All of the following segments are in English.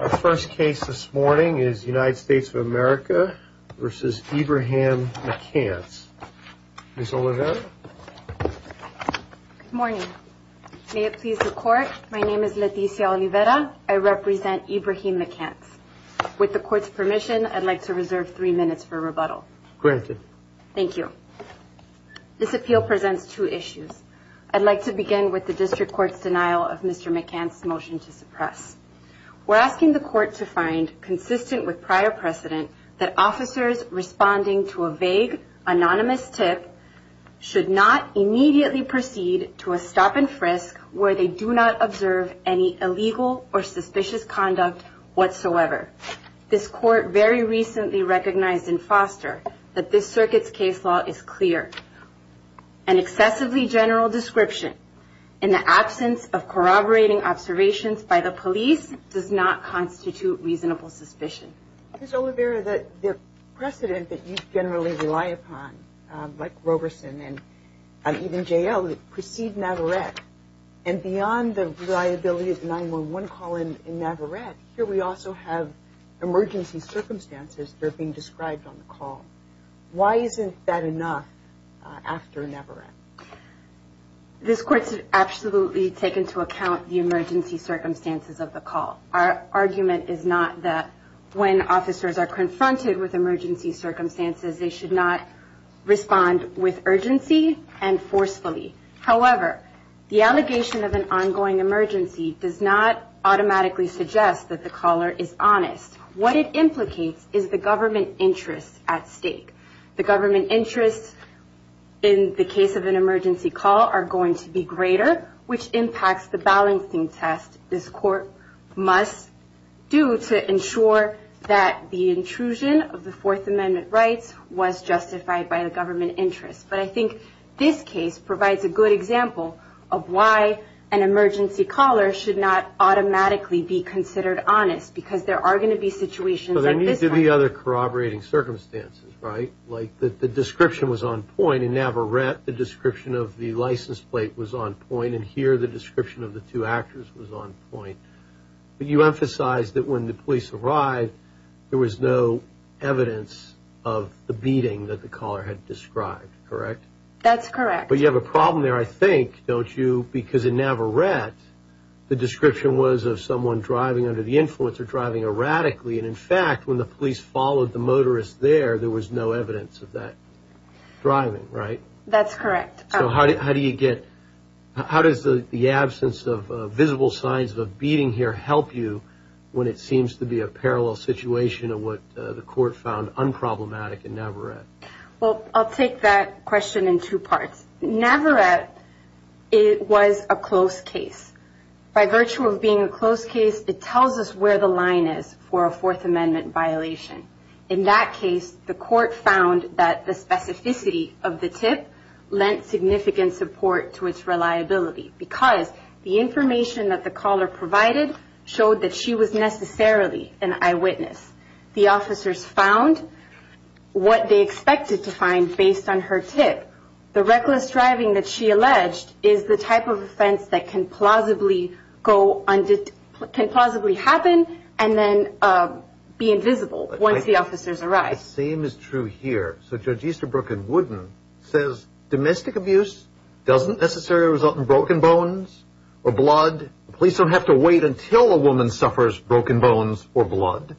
Our first case this morning is United States of America v. Ibrahim McCants. Ms. Oliveira? Good morning. May it please the Court, my name is Leticia Oliveira. I represent Ibrahim McCants. With the Court's permission, I'd like to reserve three minutes for rebuttal. Granted. Thank you. This appeal presents two issues. I'd like to begin with the District Court's denial of Mr. McCants' motion to suppress. We're asking the Court to find, consistent with prior precedent, that officers responding to a vague, anonymous tip should not immediately proceed to a stop-and-frisk where they do not observe any illegal or suspicious conduct whatsoever. This Court very recently recognized in Foster that this Circuit's case law is clear. An excessively general description in the absence of corroborating observations by the police does not constitute reasonable suspicion. Ms. Oliveira, the precedent that you generally rely upon, like Roberson and even J.L., precedes Navarrete, and beyond the reliability of the 911 call in Navarrete, here we also have emergency circumstances that are being described on the call. Why isn't that enough after Navarrete? This Court should absolutely take into account the emergency circumstances of the call. Our argument is not that when officers are confronted with emergency circumstances, they should not respond with urgency and forcefully. However, the allegation of an ongoing emergency does not automatically suggest that the caller is honest. What it implicates is the government interest at stake. The government interests in the case of an emergency call are going to be greater, which impacts the balancing test this Court must do to ensure that the intrusion of the Fourth Amendment rights was justified by the government interest. But I think this case provides a good example of why an emergency caller should not automatically be considered honest because there are going to be situations like this one. But there need to be other corroborating circumstances, right? Like the description was on point. In Navarrete, the description of the license plate was on point, and here the description of the two actors was on point. But you emphasized that when the police arrived, there was no evidence of the beating that the caller had described, correct? That's correct. But you have a problem there, I think, don't you? Because in Navarrete, the description was of someone driving under the influence or driving erratically, and in fact, when the police followed the motorist there, there was no evidence of that driving, right? That's correct. So how does the absence of visible signs of a beating here help you when it seems to be a parallel situation of what the Court found unproblematic in Navarrete? Well, I'll take that question in two parts. Navarrete, it was a close case. By virtue of being a close case, it tells us where the line is for a Fourth Amendment violation. In that case, the Court found that the specificity of the tip lent significant support to its reliability because the information that the caller provided showed that she was necessarily an eyewitness. The officers found what they expected to find based on her tip. The reckless driving that she alleged is the type of offense that can plausibly happen and then be invisible once the officers arrive. The same is true here. So Judge Easterbrook in Wooden says domestic abuse doesn't necessarily result in broken bones or blood. Police don't have to wait until a woman suffers broken bones or blood.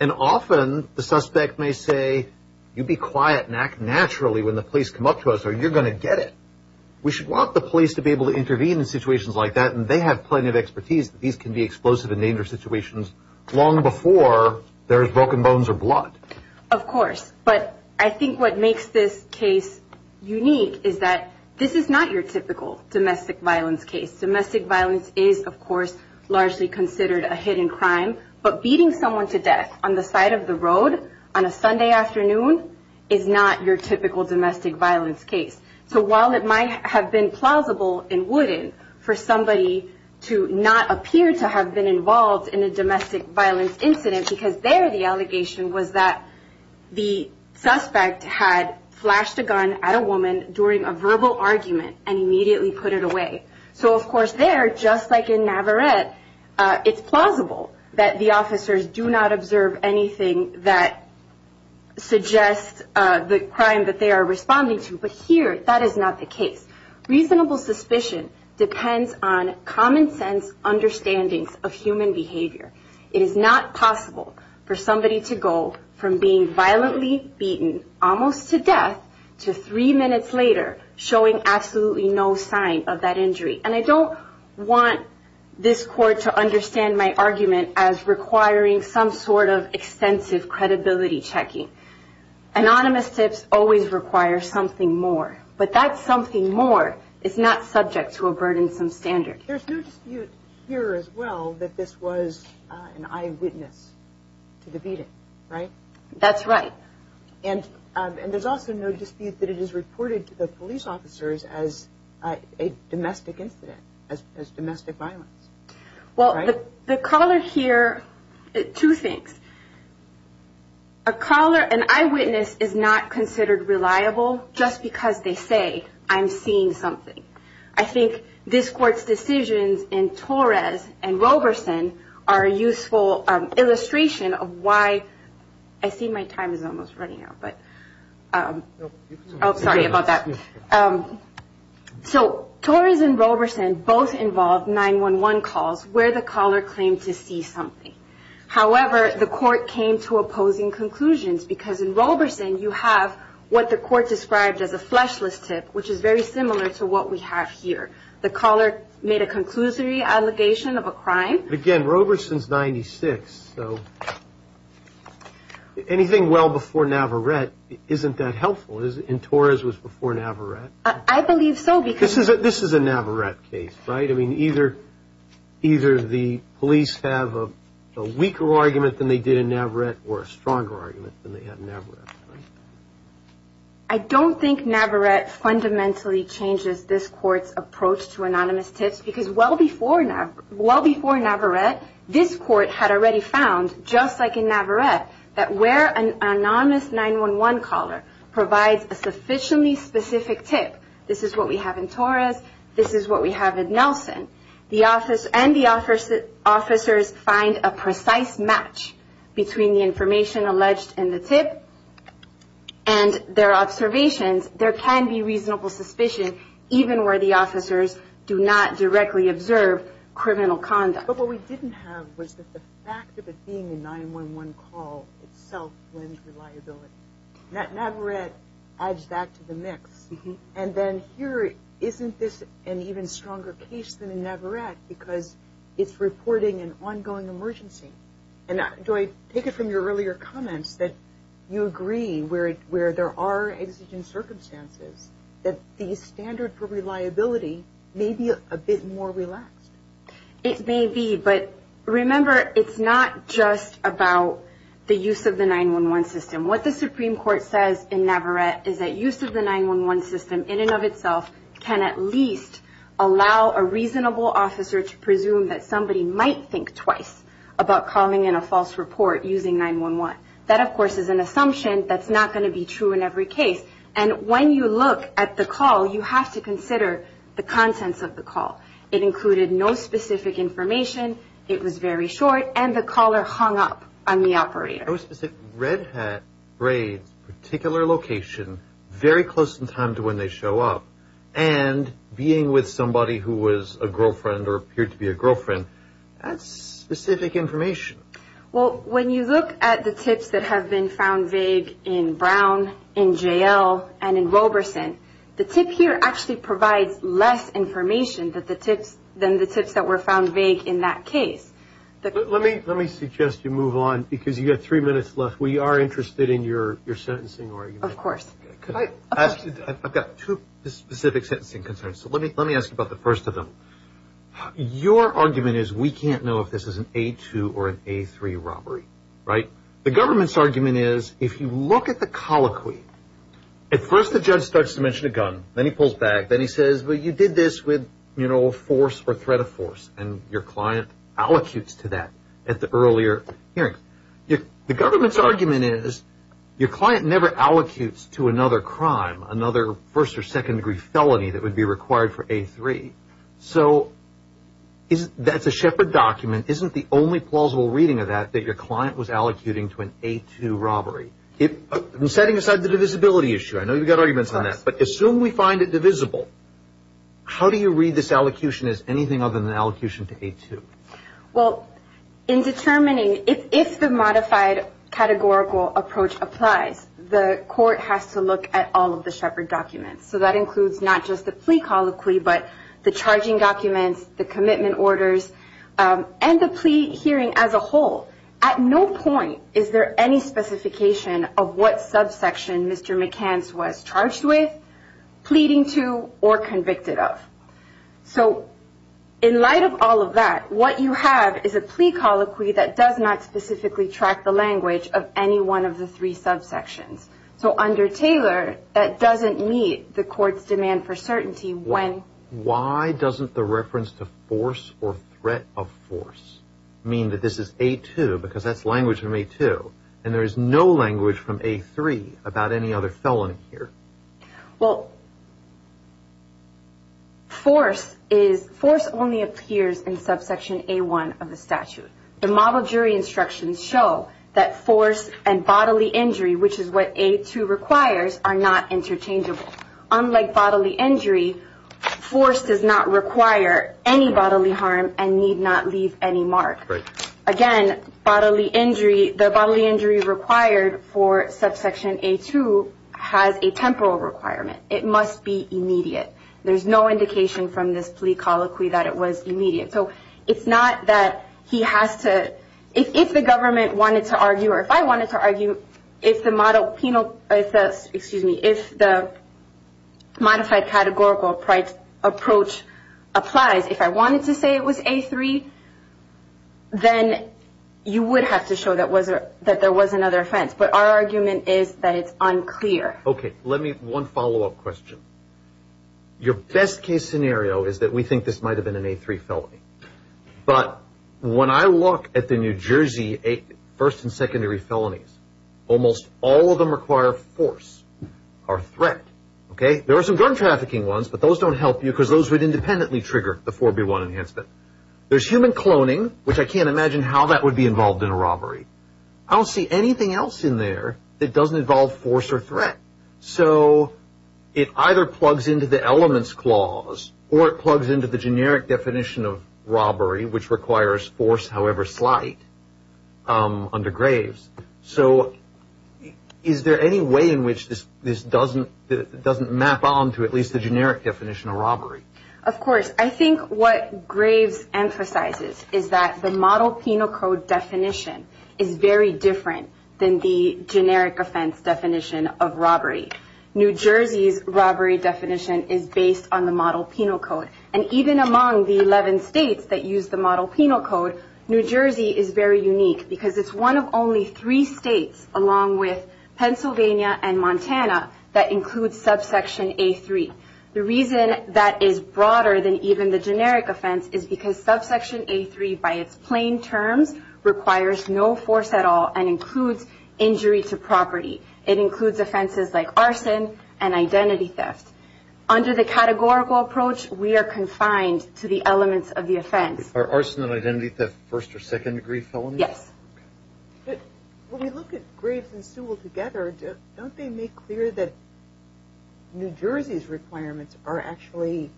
And often the suspect may say, you be quiet and act naturally when the police come up to us or you're going to get it. We should want the police to be able to intervene in situations like that and they have plenty of expertise that these can be explosive and dangerous situations long before there is broken bones or blood. Of course, but I think what makes this case unique is that this is not your typical domestic violence case. Domestic violence is, of course, largely considered a hidden crime, but beating someone to death on the side of the road on a Sunday afternoon is not your typical domestic violence case. So while it might have been plausible in Wooden for somebody to not appear to have been involved in a domestic violence incident because there the allegation was that the suspect had flashed a gun at a woman during a verbal argument and immediately put it away. So of course there, just like in Navarrete, it's plausible that the officers do not observe anything that suggests the crime that they are responding to. But here that is not the case. Reasonable suspicion depends on common sense understandings of human behavior. It is not possible for somebody to go from being violently beaten almost to death to three minutes later showing absolutely no sign of that injury. And I don't want this court to understand my argument as requiring some sort of extensive credibility checking. Anonymous tips always require something more. But that something more is not subject to a burdensome standard. There's no dispute here as well that this was an eyewitness to the beating, right? That's right. And there's also no dispute that it is reported to the police officers as a domestic incident, as domestic violence. Well, the caller here, two things. A caller, an eyewitness is not considered reliable just because they say I'm seeing something. I think this court's decisions in Torres and Roberson are a useful illustration of why I see my time is almost running out. But sorry about that. So Torres and Roberson both involved 911 calls where the caller claimed to see something. However, the court came to opposing conclusions because in Roberson you have what the court described as a fleshless tip, which is very similar to what we have here. The caller made a conclusory allegation of a crime. Again, Roberson's 96, so anything well before Navarrete isn't that helpful in Torres was before Navarrete. I believe so. This is a Navarrete case, right? I mean, either the police have a weaker argument than they did in Navarrete or a stronger argument than they had in Navarrete. I don't think Navarrete fundamentally changes this court's approach to anonymous tips because well before Navarrete, this court had already found, just like in Navarrete, that where an anonymous 911 caller provides a sufficiently specific tip, this is what we have in Torres, this is what we have in Nelson, and the officers find a precise match between the information alleged in the tip and their observations, there can be reasonable suspicion even where the officers do not directly observe criminal conduct. But what we didn't have was that the fact of it being a 911 call itself blends reliability. Navarrete adds that to the mix. And then here, isn't this an even stronger case than in Navarrete because it's reporting an ongoing emergency? And Joy, take it from your earlier comments that you agree where there are exigent circumstances that the standard for reliability may be a bit more relaxed. It may be, but remember, it's not just about the use of the 911 system. What the Supreme Court says in Navarrete is that use of the 911 system in and of itself can at least allow a reasonable officer to presume that somebody might think twice about calling in a false report using 911. That, of course, is an assumption that's not going to be true in every case. And when you look at the call, you have to consider the contents of the call. It included no specific information, it was very short, and the caller hung up on the operator. No specific Red Hat raids, particular location, very close in time to when they show up, and being with somebody who was a girlfriend or appeared to be a girlfriend. That's specific information. Well, when you look at the tips that have been found vague in Brown, in JL, and in Roberson, the tip here actually provides less information than the tips that were found vague in that case. Let me suggest you move on because you've got three minutes left. We are interested in your sentencing argument. Of course. I've got two specific sentencing concerns, so let me ask you about the first of them. Your argument is we can't know if this is an A2 or an A3 robbery, right? The government's argument is if you look at the colloquy, at first the judge starts to mention a gun, then he pulls back, then he says, well, you did this with force or threat of force, and your client allocutes to that at the earlier hearing. The government's argument is your client never allocutes to another crime, another first or second degree felony that would be required for A3. So that's a Shepard document. Isn't the only plausible reading of that that your client was allocuting to an A2 robbery? Setting aside the divisibility issue, I know you've got arguments on that, but assume we find it divisible, how do you read this allocution as anything other than allocution to A2? Well, in determining if the modified categorical approach applies, the court has to look at all of the Shepard documents. So that includes not just the plea colloquy, but the charging documents, the commitment orders, and the plea hearing as a whole. At no point is there any specification of what subsection Mr. McCance was charged with, pleading to, or convicted of. So in light of all of that, what you have is a plea colloquy that does not specifically track the language of any one of the three subsections. So under Taylor, that doesn't meet the court's demand for certainty when… And there is no language from A3 about any other felony here. Well, force only appears in subsection A1 of the statute. The model jury instructions show that force and bodily injury, which is what A2 requires, are not interchangeable. Unlike bodily injury, force does not require any bodily harm and need not leave any mark. Again, bodily injury, the bodily injury required for subsection A2 has a temporal requirement. It must be immediate. There's no indication from this plea colloquy that it was immediate. So it's not that he has to… If the government wanted to argue, or if I wanted to argue, if the modified categorical approach applies, if I wanted to say it was A3, then you would have to show that there was another offense. But our argument is that it's unclear. Okay. Let me… One follow-up question. Your best-case scenario is that we think this might have been an A3 felony. But when I look at the New Jersey first and secondary felonies, almost all of them require force or threat. There are some gun trafficking ones, but those don't help you because those would independently trigger the 4B1 enhancement. There's human cloning, which I can't imagine how that would be involved in a robbery. I don't see anything else in there that doesn't involve force or threat. So it either plugs into the elements clause or it plugs into the generic definition of robbery, which requires force, however slight, under graves. So is there any way in which this doesn't map on to at least the generic definition of robbery? Of course. I think what graves emphasizes is that the model penal code definition is very different than the generic offense definition of robbery. New Jersey's robbery definition is based on the model penal code. And even among the 11 states that use the model penal code, New Jersey is very unique because it's one of only three states, along with Pennsylvania and Montana, that includes subsection A3. The reason that is broader than even the generic offense is because subsection A3, by its plain terms, requires no force at all and includes injury to property. It includes offenses like arson and identity theft. Under the categorical approach, we are confined to the elements of the offense. Are arson and identity theft first or second degree felonies? Yes. When we look at graves and Sewell together, don't they make clear that New Jersey's requirements are actually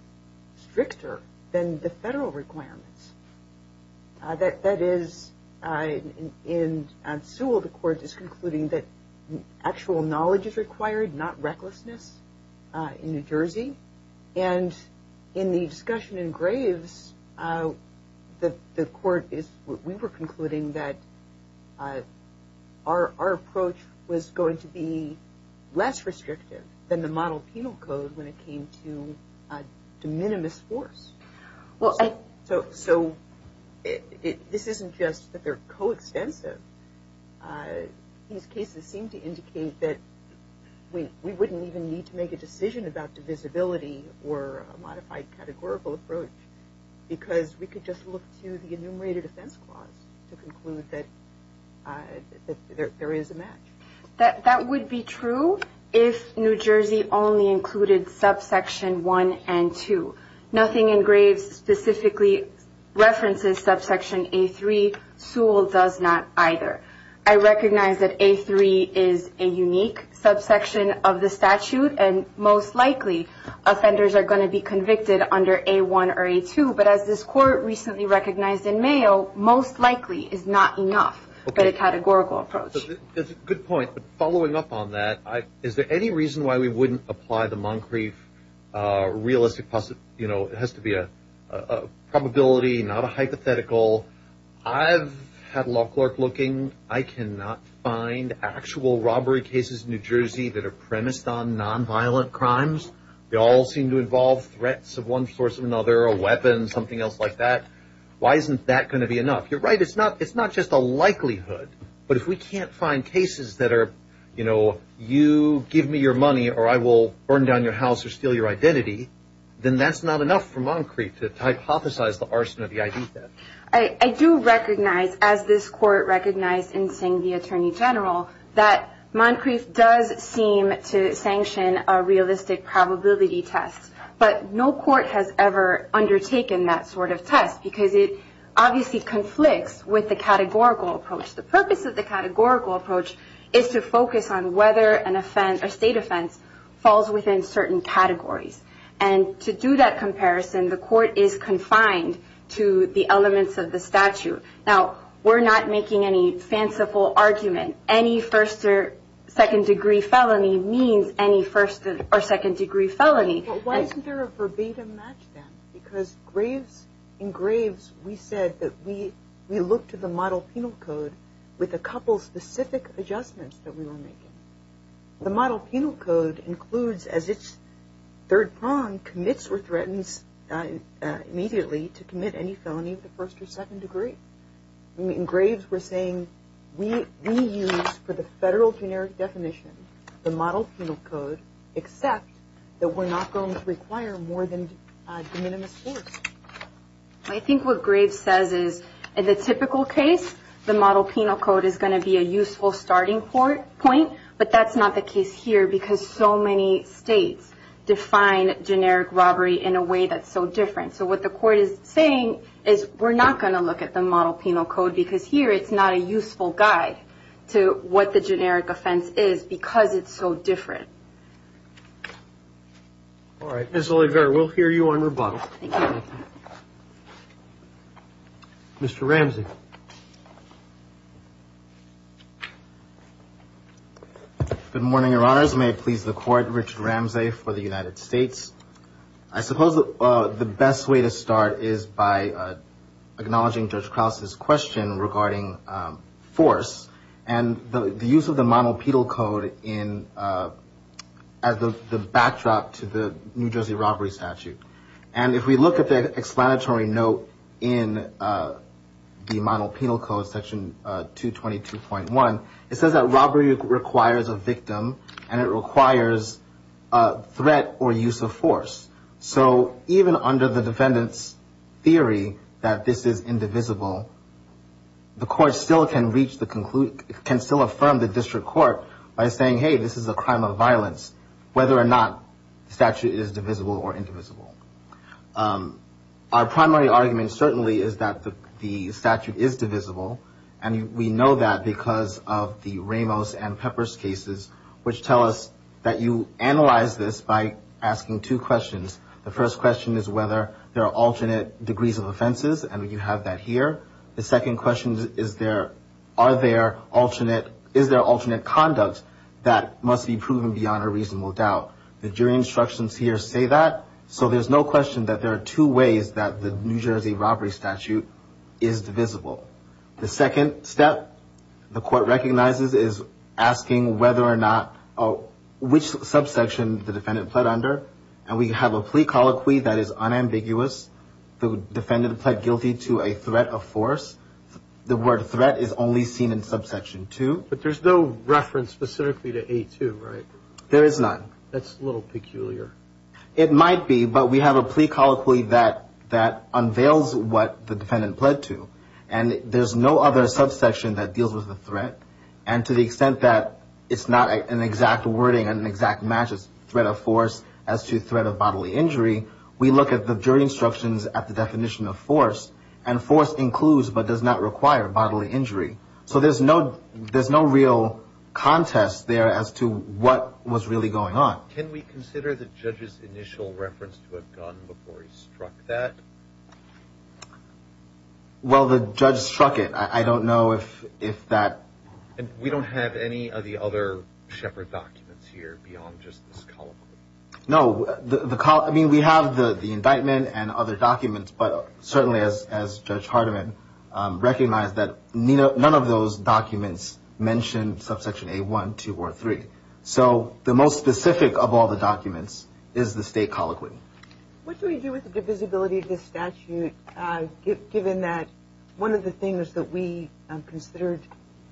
stricter than the federal requirements? That is, in Sewell, the court is concluding that actual knowledge is required, not recklessness in New Jersey. And in the discussion in graves, the court is – we were concluding that our approach was going to be less restrictive than the model penal code when it came to minimus force. So this isn't just that they're coextensive. These cases seem to indicate that we wouldn't even need to make a decision about divisibility or a modified categorical approach because we could just look to the enumerated offense clause to conclude that there is a match. That would be true if New Jersey only included subsection 1 and 2. Nothing in graves specifically references subsection A3. Sewell does not either. I recognize that A3 is a unique subsection of the statute and most likely offenders are going to be convicted under A1 or A2. But as this court recently recognized in Mayo, most likely is not enough for the categorical approach. That's a good point. But following up on that, is there any reason why we wouldn't apply the Moncrief realistic – you know, it has to be a probability, not a hypothetical. I've had a law clerk looking. I cannot find actual robbery cases in New Jersey that are premised on nonviolent crimes. They all seem to involve threats of one source or another, a weapon, something else like that. Why isn't that going to be enough? You're right. It's not just a likelihood. But if we can't find cases that are, you know, you give me your money or I will burn down your house or steal your identity, then that's not enough for Moncrief to hypothesize the arson of the ID theft. I do recognize, as this court recognized in Singh v. Attorney General, that Moncrief does seem to sanction a realistic probability test. But no court has ever undertaken that sort of test because it obviously conflicts with the categorical approach. The purpose of the categorical approach is to focus on whether an offense, a state offense, falls within certain categories. And to do that comparison, the court is confined to the elements of the statute. Now, we're not making any fanciful argument. Any first or second degree felony means any first or second degree felony. But why isn't there a verbatim match then? Because in Graves we said that we look to the model penal code with a couple specific adjustments that we were making. The model penal code includes as its third prong commits or threatens immediately to commit any felony of the first or second degree. In Graves we're saying we use, for the federal generic definition, the model penal code, except that we're not going to require more than de minimis force. I think what Graves says is, in the typical case, the model penal code is going to be a useful starting point. But that's not the case here because so many states define generic robbery in a way that's so different. So what the court is saying is we're not going to look at the model penal code because here it's not a useful guide to what the generic offense is because it's so different. All right. Ms. Oliveira, we'll hear you on rebuttal. Thank you. Mr. Ramsey. Good morning, Your Honors. May it please the Court, Richard Ramsey for the United States. I suppose the best way to start is by acknowledging Judge Krause's question regarding force and the use of the model penal code as the backdrop to the New Jersey robbery statute. And if we look at the explanatory note in the model penal code, section 222.1, it says that robbery requires a victim and it requires threat or use of force. So even under the defendant's theory that this is indivisible, the court still can reach the conclusion, can still affirm the district court by saying, hey, this is a crime of violence, whether or not the statute is divisible or indivisible. Our primary argument certainly is that the statute is divisible. And we know that because of the Ramos and Peppers cases, which tell us that you analyze this by asking two questions. The first question is whether there are alternate degrees of offenses, and you have that here. The second question is there alternate conduct that must be proven beyond a reasonable doubt. The jury instructions here say that. So there's no question that there are two ways that the New Jersey robbery statute is divisible. The second step the court recognizes is asking whether or not which subsection the defendant pled under. And we have a plea colloquy that is unambiguous. The defendant pled guilty to a threat of force. The word threat is only seen in subsection two. But there's no reference specifically to A2, right? There is none. That's a little peculiar. It might be, but we have a plea colloquy that unveils what the defendant pled to. And there's no other subsection that deals with the threat. And to the extent that it's not an exact wording, an exact match, it's threat of force as to threat of bodily injury, we look at the jury instructions at the definition of force, and force includes but does not require bodily injury. So there's no real contest there as to what was really going on. Can we consider the judge's initial reference to a gun before he struck that? Well, the judge struck it. I don't know if that. We don't have any of the other Shepard documents here beyond just this colloquy. No. I mean, we have the indictment and other documents. But certainly, as Judge Hardiman recognized, that none of those documents mention subsection A1, 2, or 3. So the most specific of all the documents is the state colloquy. What do we do with the divisibility of this statute, given that one of the things that we considered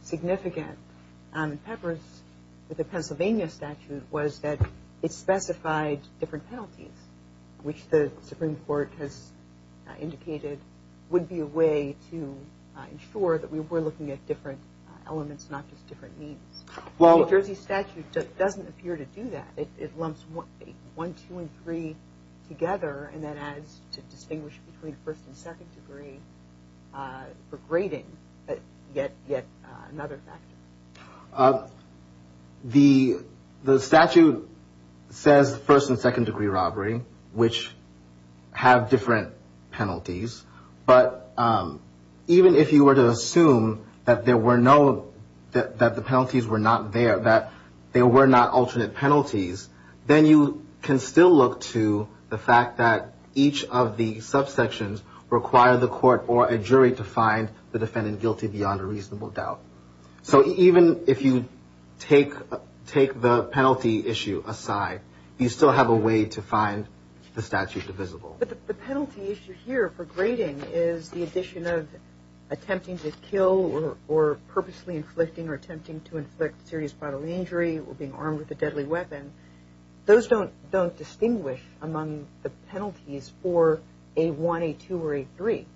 significant in Peppers with the Pennsylvania statute was that it specified different penalties, which the Supreme Court has indicated would be a way to ensure that we were looking at different elements, not just different means. The New Jersey statute doesn't appear to do that. It lumps 1, 2, and 3 together, and that adds to distinguish between first and second degree for grading, yet another factor. The statute says first and second degree robbery, which have different penalties. But even if you were to assume that the penalties were not there, that there were not alternate penalties, then you can still look to the fact that each of the subsections require the court or a jury to find the defendant guilty beyond a reasonable doubt. So even if you take the penalty issue aside, you still have a way to find the statute divisible. But the penalty issue here for grading is the addition of attempting to kill or purposely inflicting or attempting to inflict serious bodily injury or being armed with a deadly weapon. Those don't distinguish among the penalties for A1, A2, or A3.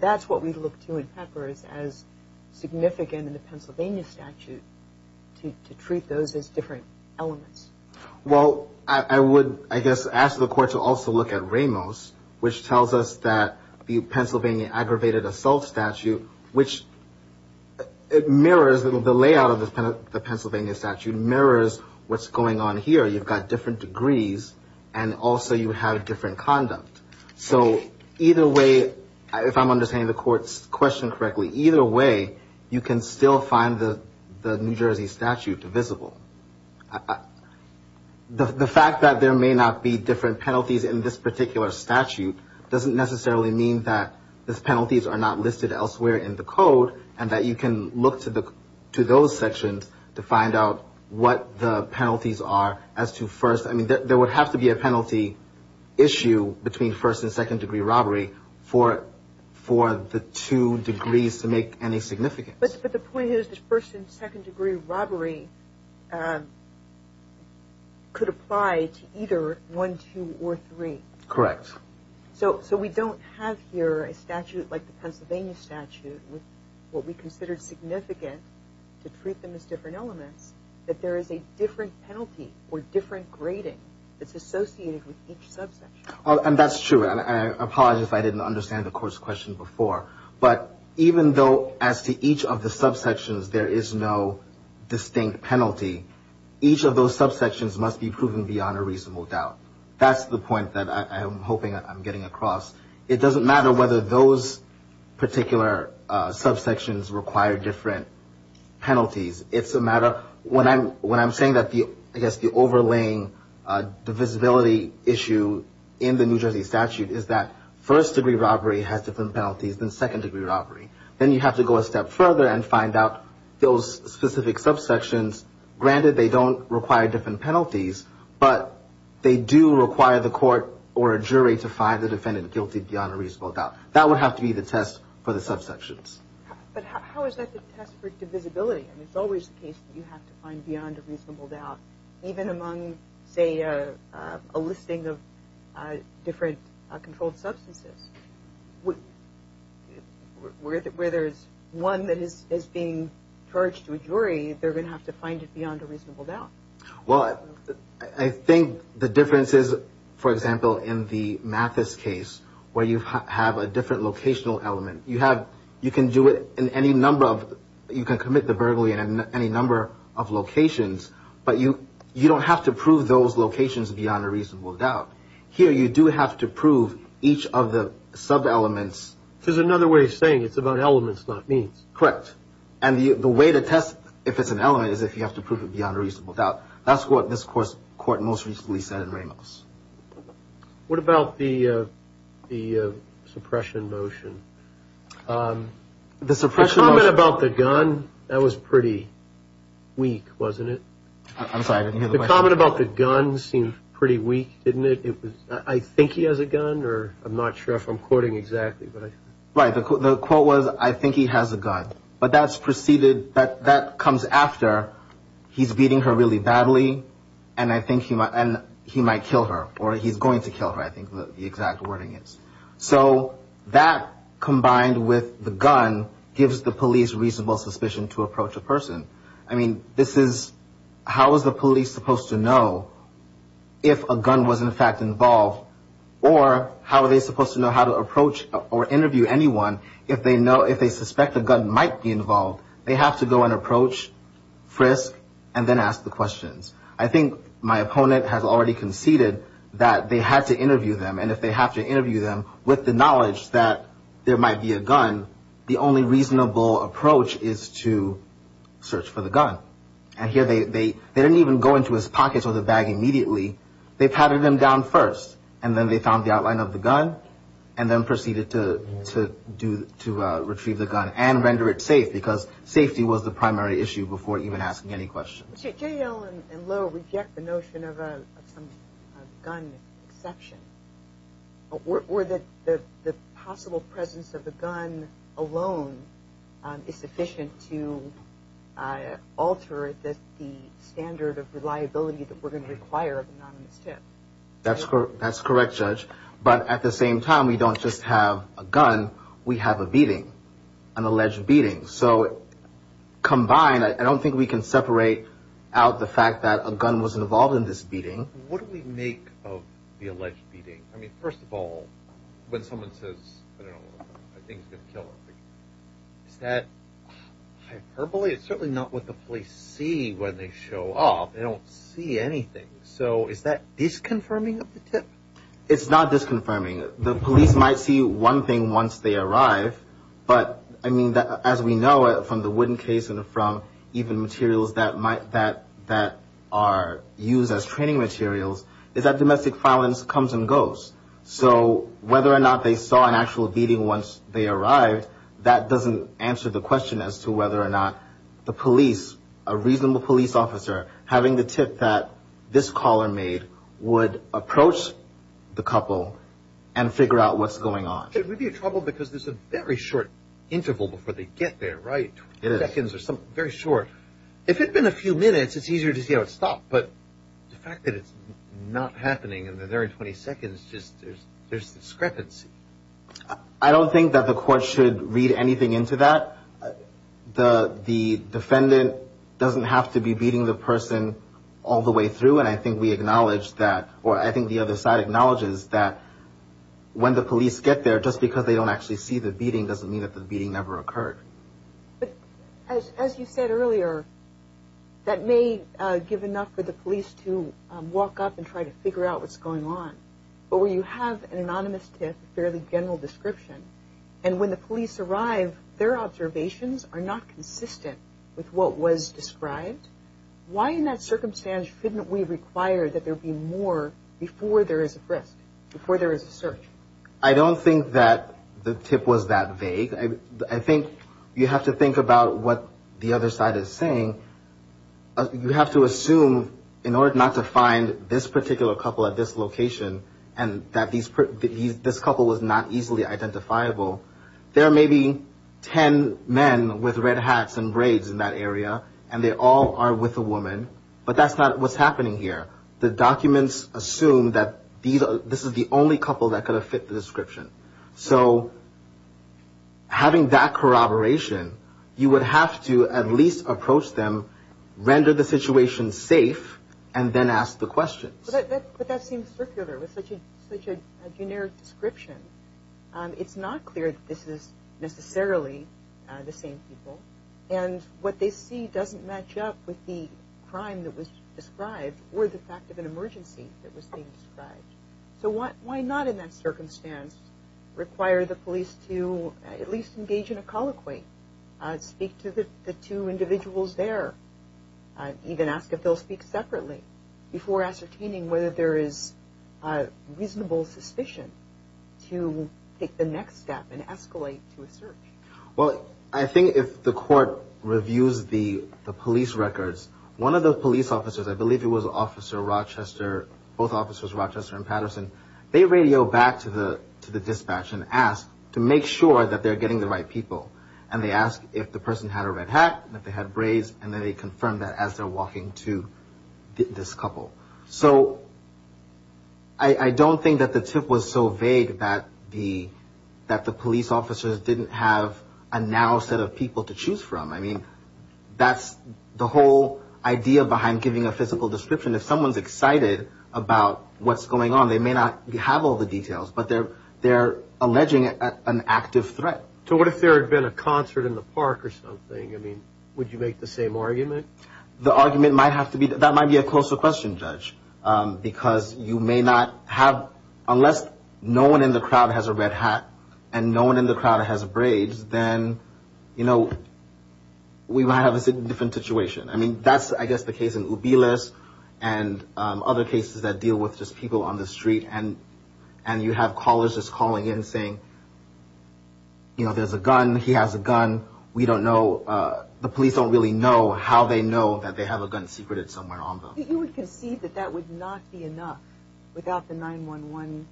That's what we look to in Peppers as significant in the Pennsylvania statute, to treat those as different elements. Well, I would, I guess, ask the court to also look at Ramos, which tells us that the Pennsylvania aggravated assault statute, which it mirrors the layout of the Pennsylvania statute, mirrors what's going on here. You've got different degrees, and also you have different conduct. So either way, if I'm understanding the court's question correctly, either way, you can still find the New Jersey statute divisible. The fact that there may not be different penalties in this particular statute doesn't necessarily mean that these penalties are not listed elsewhere in the code and that you can look to those sections to find out what the penalties are as to first. I mean, there would have to be a penalty issue between first and second degree robbery for the two degrees to make any significance. But the point is that first and second degree robbery could apply to either 1, 2, or 3. Correct. So we don't have here a statute like the Pennsylvania statute with what we consider significant to treat them as different elements, that there is a different penalty or different grading that's associated with each subsection. And that's true. And I apologize if I didn't understand the court's question before. But even though as to each of the subsections there is no distinct penalty, each of those subsections must be proven beyond a reasonable doubt. That's the point that I'm hoping I'm getting across. It doesn't matter whether those particular subsections require different penalties. When I'm saying that I guess the overlaying divisibility issue in the New Jersey statute is that first degree robbery has different penalties than second degree robbery. Then you have to go a step further and find out those specific subsections. Granted, they don't require different penalties, but they do require the court or a jury to find the defendant guilty beyond a reasonable doubt. That would have to be the test for the subsections. But how is that the test for divisibility? I mean, it's always the case that you have to find beyond a reasonable doubt. Even among, say, a listing of different controlled substances, where there is one that is being charged to a jury, they're going to have to find it beyond a reasonable doubt. Well, I think the difference is, for example, in the Mathis case where you have a different locational element. You can do it in any number of – you can commit the burglary in any number of locations, but you don't have to prove those locations beyond a reasonable doubt. Here you do have to prove each of the sub-elements. Which is another way of saying it's about elements, not means. Correct. And the way to test if it's an element is if you have to prove it beyond a reasonable doubt. That's what this court most recently said in Ramos. What about the suppression motion? The suppression motion – The comment about the gun, that was pretty weak, wasn't it? I'm sorry, I didn't hear the question. The comment about the gun seemed pretty weak, didn't it? It was, I think he has a gun, or I'm not sure if I'm quoting exactly. Right. The quote was, I think he has a gun. But that's preceded – that comes after he's beating her really badly, and I think he might kill her. Or he's going to kill her, I think the exact wording is. So that combined with the gun gives the police reasonable suspicion to approach a person. I mean, this is – how is the police supposed to know if a gun was in fact involved? Or how are they supposed to know how to approach or interview anyone if they suspect a gun might be involved? They have to go and approach, frisk, and then ask the questions. I think my opponent has already conceded that they had to interview them, and if they have to interview them with the knowledge that there might be a gun, the only reasonable approach is to search for the gun. And here they didn't even go into his pockets or the bag immediately. They pattered him down first, and then they found the outline of the gun, and then proceeded to do – to retrieve the gun and render it safe, because safety was the primary issue before even asking any questions. J.L. and Lo reject the notion of some gun exception. Or that the possible presence of the gun alone is sufficient to alter the standard of reliability that we're going to require of anonymous tip. That's correct, Judge. But at the same time, we don't just have a gun. We have a beating, an alleged beating. So combined, I don't think we can separate out the fact that a gun was involved in this beating. What do we make of the alleged beating? I mean, first of all, when someone says, I don't know, I think he's going to kill her, is that hyperbole? It's certainly not what the police see when they show up. They don't see anything. So is that disconfirming of the tip? It's not disconfirming. The police might see one thing once they arrive, but, I mean, as we know, from the wooden case and from even materials that are used as training materials, is that domestic violence comes and goes. So whether or not they saw an actual beating once they arrived, that doesn't answer the question as to whether or not the police, a reasonable police officer, having the tip that this caller made would approach the couple and figure out what's going on. It would be a trouble because there's a very short interval before they get there, right? It is. Very short. If it had been a few minutes, it's easier to see how it stopped. But the fact that it's not happening and they're there in 20 seconds, there's discrepancy. I don't think that the court should read anything into that. The defendant doesn't have to be beating the person all the way through, and I think we acknowledge that, or I think the other side acknowledges that, when the police get there, just because they don't actually see the beating doesn't mean that the beating never occurred. As you said earlier, that may give enough for the police to walk up and try to figure out what's going on. But where you have an anonymous tip, a fairly general description, and when the police arrive, their observations are not consistent with what was described, why in that circumstance shouldn't we require that there be more before there is a frisk, before there is a search? I don't think that the tip was that vague. I think you have to think about what the other side is saying. You have to assume, in order not to find this particular couple at this location and that this couple was not easily identifiable, there are maybe ten men with red hats and braids in that area, and they all are with a woman, but that's not what's happening here. The documents assume that this is the only couple that could have fit the description. So having that corroboration, you would have to at least approach them, render the situation safe, and then ask the questions. But that seems circular with such a generic description. It's not clear that this is necessarily the same people, and what they see doesn't match up with the crime that was described or the fact of an emergency that was being described. So why not in that circumstance require the police to at least engage in a colloquy, speak to the two individuals there, even ask if they'll speak separately before ascertaining whether there is reasonable suspicion to take the next step and escalate to a search? Well, I think if the court reviews the police records, one of the police officers, I believe it was Officer Rochester, both Officers Rochester and Patterson, they radio back to the dispatch and ask to make sure that they're getting the right people. And they ask if the person had a red hat and if they had braids, and then they confirm that as they're walking to this couple. So I don't think that the tip was so vague that the police officers didn't have a narrow set of people to choose from. I mean, that's the whole idea behind giving a physical description. If someone's excited about what's going on, they may not have all the details, but they're alleging an active threat. So what if there had been a concert in the park or something? I mean, would you make the same argument? The argument might have to be, that might be a closer question, Judge, because you may not have, unless no one in the crowd has a red hat and no one in the crowd has braids, then, you know, we might have a different situation. I mean, that's, I guess, the case in Ubilis and other cases that deal with just people on the street, and you have callers just calling in saying, you know, there's a gun, he has a gun, we don't know, the police don't really know how they know that they have a gun secreted somewhere on them. You would concede that that would not be enough without the 911,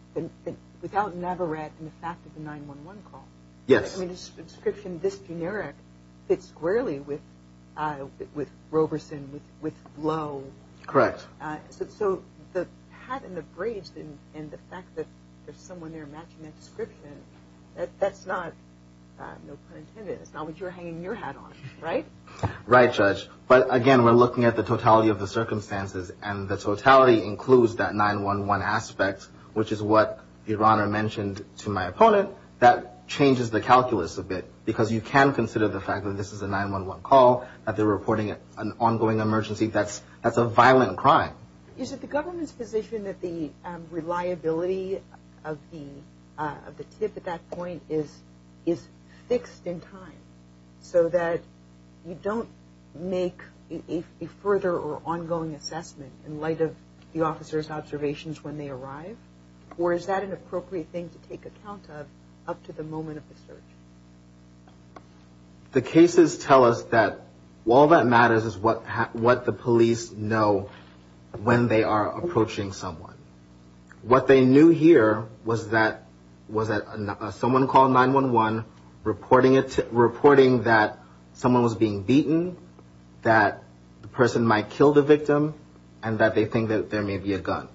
without Navarrete and the fact of the 911 call. Yes. I mean, a description this generic fits squarely with Roberson, with Blow. Correct. So the hat and the braids and the fact that there's someone there that's not, no pun intended, it's not what you're hanging your hat on, right? Right, Judge. But, again, we're looking at the totality of the circumstances, and the totality includes that 911 aspect, which is what Your Honor mentioned to my opponent, that changes the calculus a bit, because you can consider the fact that this is a 911 call, that they're reporting an ongoing emergency, that's a violent crime. Is it the government's position that the reliability of the tip at that point is fixed in time, so that you don't make a further or ongoing assessment in light of the officer's observations when they arrive, or is that an appropriate thing to take account of up to the moment of the search? The cases tell us that all that matters is what the police know when they are approaching someone. What they knew here was that someone called 911, reporting that someone was being beaten, that the person might kill the victim, and that they think that there may be a gun.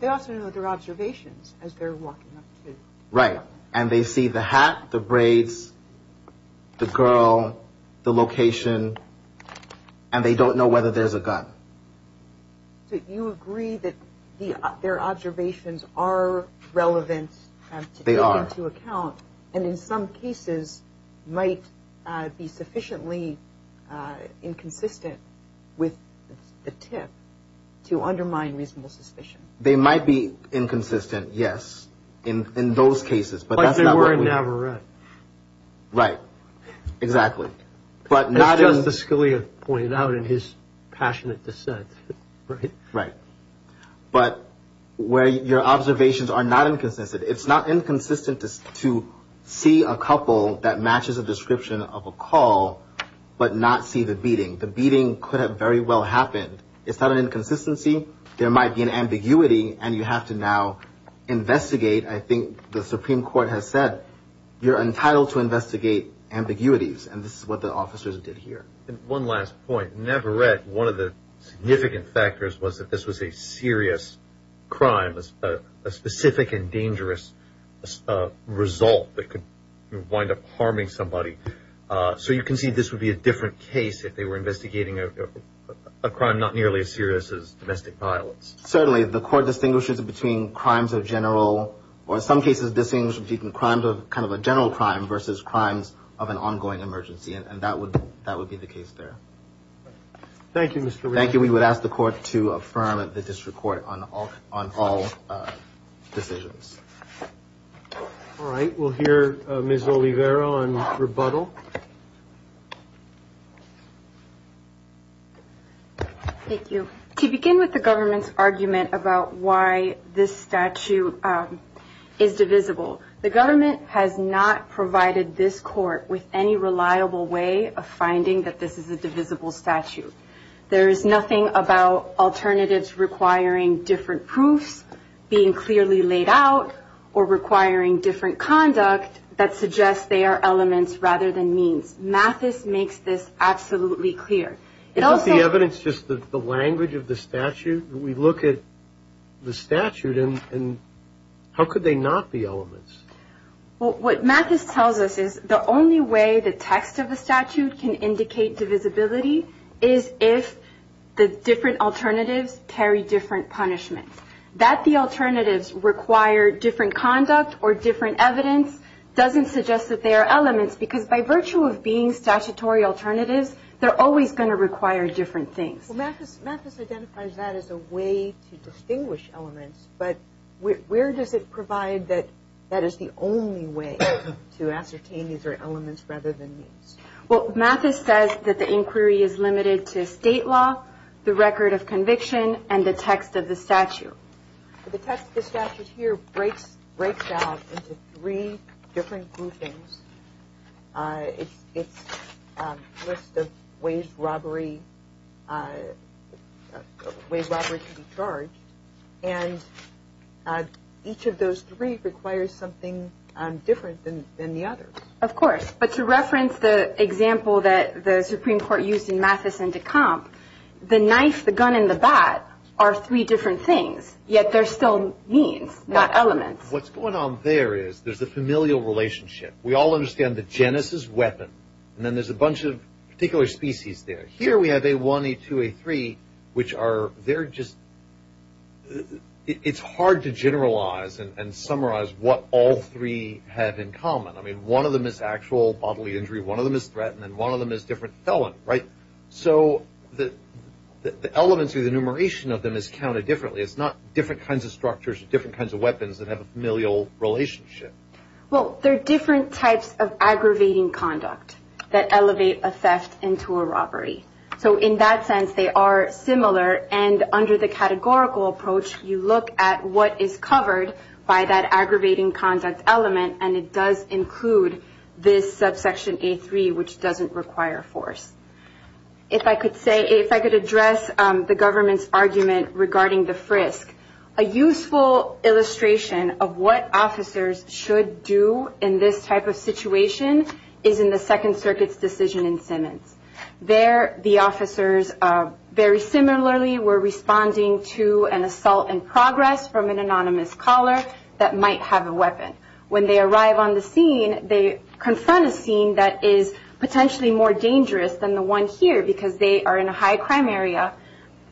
They also know their observations as they're walking up to. Right. And they don't know whether there's a gun. So you agree that their observations are relevant to take into account, and in some cases might be sufficiently inconsistent with the tip to undermine reasonable suspicion. They might be inconsistent, yes, in those cases. Like they were in Navarrete. Right. Exactly. As Justice Scalia pointed out in his passionate dissent. Right. Right. But where your observations are not inconsistent. It's not inconsistent to see a couple that matches a description of a call but not see the beating. The beating could have very well happened. It's not an inconsistency. There might be an ambiguity, and you have to now investigate. I think the Supreme Court has said you're entitled to investigate ambiguities, and this is what the officers did here. One last point. Navarrete, one of the significant factors was that this was a serious crime, a specific and dangerous result that could wind up harming somebody. So you can see this would be a different case if they were investigating a crime not nearly as serious as domestic violence. Certainly. The court distinguishes between crimes of general, or in some cases distinguishes between crimes of kind of a general crime versus crimes of an ongoing emergency, and that would be the case there. Thank you, Mr. Rivera. Thank you. We would ask the court to affirm the district court on all decisions. All right. We'll hear Ms. Oliveira on rebuttal. Thank you. To begin with the government's argument about why this statute is divisible, the government has not provided this court with any reliable way of finding that this is a divisible statute. There is nothing about alternatives requiring different proofs being clearly laid out or requiring different conduct that suggests they are elements rather than means. Mathis makes this absolutely clear. Isn't the evidence just the language of the statute? We look at the statute, and how could they not be elements? Well, what Mathis tells us is the only way the text of the statute can indicate divisibility is if the different alternatives carry different punishments. That the alternatives require different conduct or different evidence doesn't suggest that they are elements because by virtue of being statutory alternatives, they're always going to require different things. Mathis identifies that as a way to distinguish elements, but where does it provide that that is the only way to ascertain these are elements rather than means? Well, Mathis says that the inquiry is limited to state law, the record of conviction, and the text of the statute. The text of the statute here breaks out into three different groupings. It's a list of ways robbery can be charged, and each of those three requires something different than the others. Of course, but to reference the example that the Supreme Court used in Mathis and de Camp, the knife, the gun, and the bat are three different things, yet they're still means, not elements. What's going on there is there's a familial relationship. We all understand the genus is weapon, and then there's a bunch of particular species there. Here we have A1, A2, A3, which are, they're just, it's hard to generalize and summarize what all three have in common. I mean, one of them is actual bodily injury. One of them is threatened, and one of them is different felon, right? So the elements or the enumeration of them is counted differently. It's not different kinds of structures or different kinds of weapons that have a familial relationship. Well, there are different types of aggravating conduct that elevate a theft into a robbery. So in that sense, they are similar, and under the categorical approach, you look at what is covered by that aggravating conduct element, and it does include this subsection A3, which doesn't require force. If I could say, if I could address the government's argument regarding the frisk, a useful illustration of what officers should do in this type of situation is in the Second Circuit's decision in Simmons. There, the officers very similarly were responding to an assault in progress from an anonymous caller that might have a weapon. When they arrive on the scene, they confront a scene that is potentially more dangerous than the one here because they are in a high crime area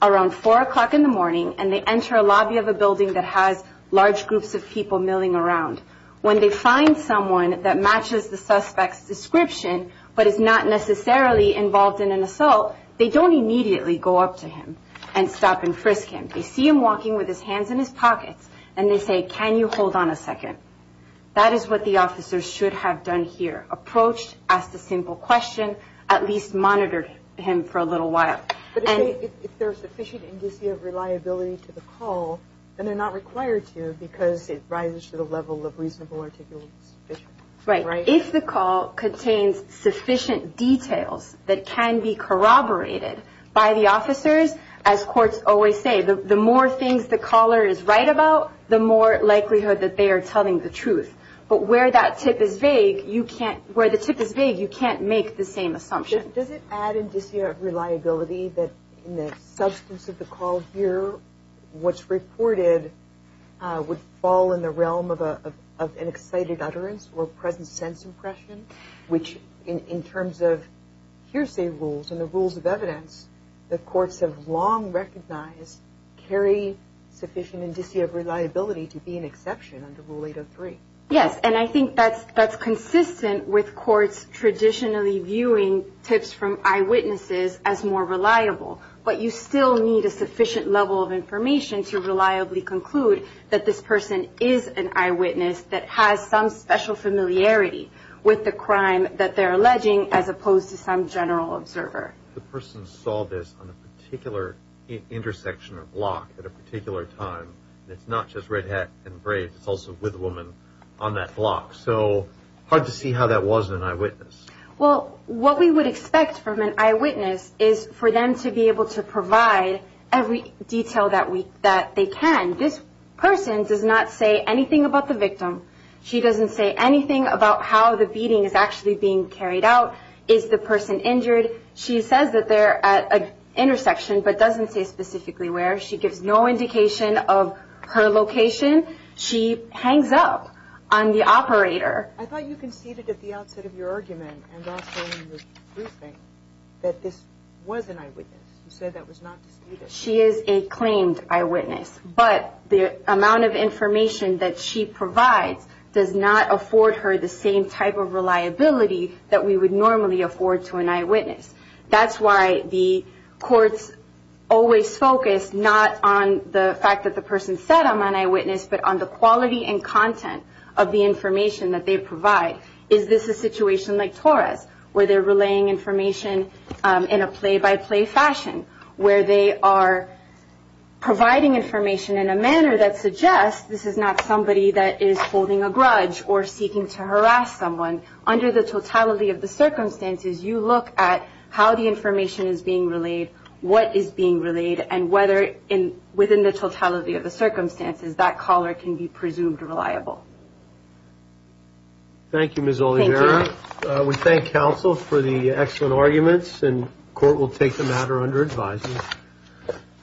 around 4 o'clock in the morning, and they enter a lobby of a building that has large groups of people milling around. When they find someone that matches the suspect's description but is not necessarily involved in an assault, they don't immediately go up to him and stop and frisk him. They see him walking with his hands in his pockets, and they say, can you hold on a second? That is what the officers should have done here, approached, asked a simple question, at least monitored him for a little while. But if there is sufficient indicia of reliability to the call, then they're not required to because it rises to the level of reasonable articulation. Right. If the call contains sufficient details that can be corroborated by the officers, as courts always say, the more things the caller is right about, the more likelihood that they are telling the truth. But where that tip is vague, you can't make the same assumption. Does it add indicia of reliability that in the substance of the call here, what's reported would fall in the realm of an excited utterance or present sense impression, which in terms of hearsay rules and the rules of evidence, that courts have long recognized carry sufficient indicia of reliability to be an exception under Rule 803? Yes, and I think that's consistent with courts traditionally viewing tips from eyewitnesses as more reliable. But you still need a sufficient level of information to reliably conclude that this person is an eyewitness that has some special familiarity with the crime that they're alleging as opposed to some general observer. The person saw this on a particular intersection or block at a particular time. It's not just Red Hat and Braves. It's also with a woman on that block. So hard to see how that wasn't an eyewitness. Well, what we would expect from an eyewitness is for them to be able to provide every detail that they can. This person does not say anything about the victim. She doesn't say anything about how the beating is actually being carried out. Is the person injured? She says that they're at an intersection but doesn't say specifically where. She gives no indication of her location. She hangs up on the operator. I thought you conceded at the outset of your argument and also in the briefing that this was an eyewitness. You said that was not disputed. She is a claimed eyewitness, but the amount of information that she provides does not afford her the same type of reliability that we would normally afford to an eyewitness. That's why the courts always focus not on the fact that the person said I'm an eyewitness but on the quality and content of the information that they provide. Is this a situation like Torres where they're relaying information in a play-by-play fashion, where they are providing information in a manner that suggests this is not somebody that is holding a grudge or seeking to harass someone? Under the totality of the circumstances, you look at how the information is being relayed, what is being relayed, and whether within the totality of the circumstances that caller can be presumed reliable. Thank you, Ms. Oliveira. Thank you. We thank counsel for the excellent arguments, and court will take the matter under advisement.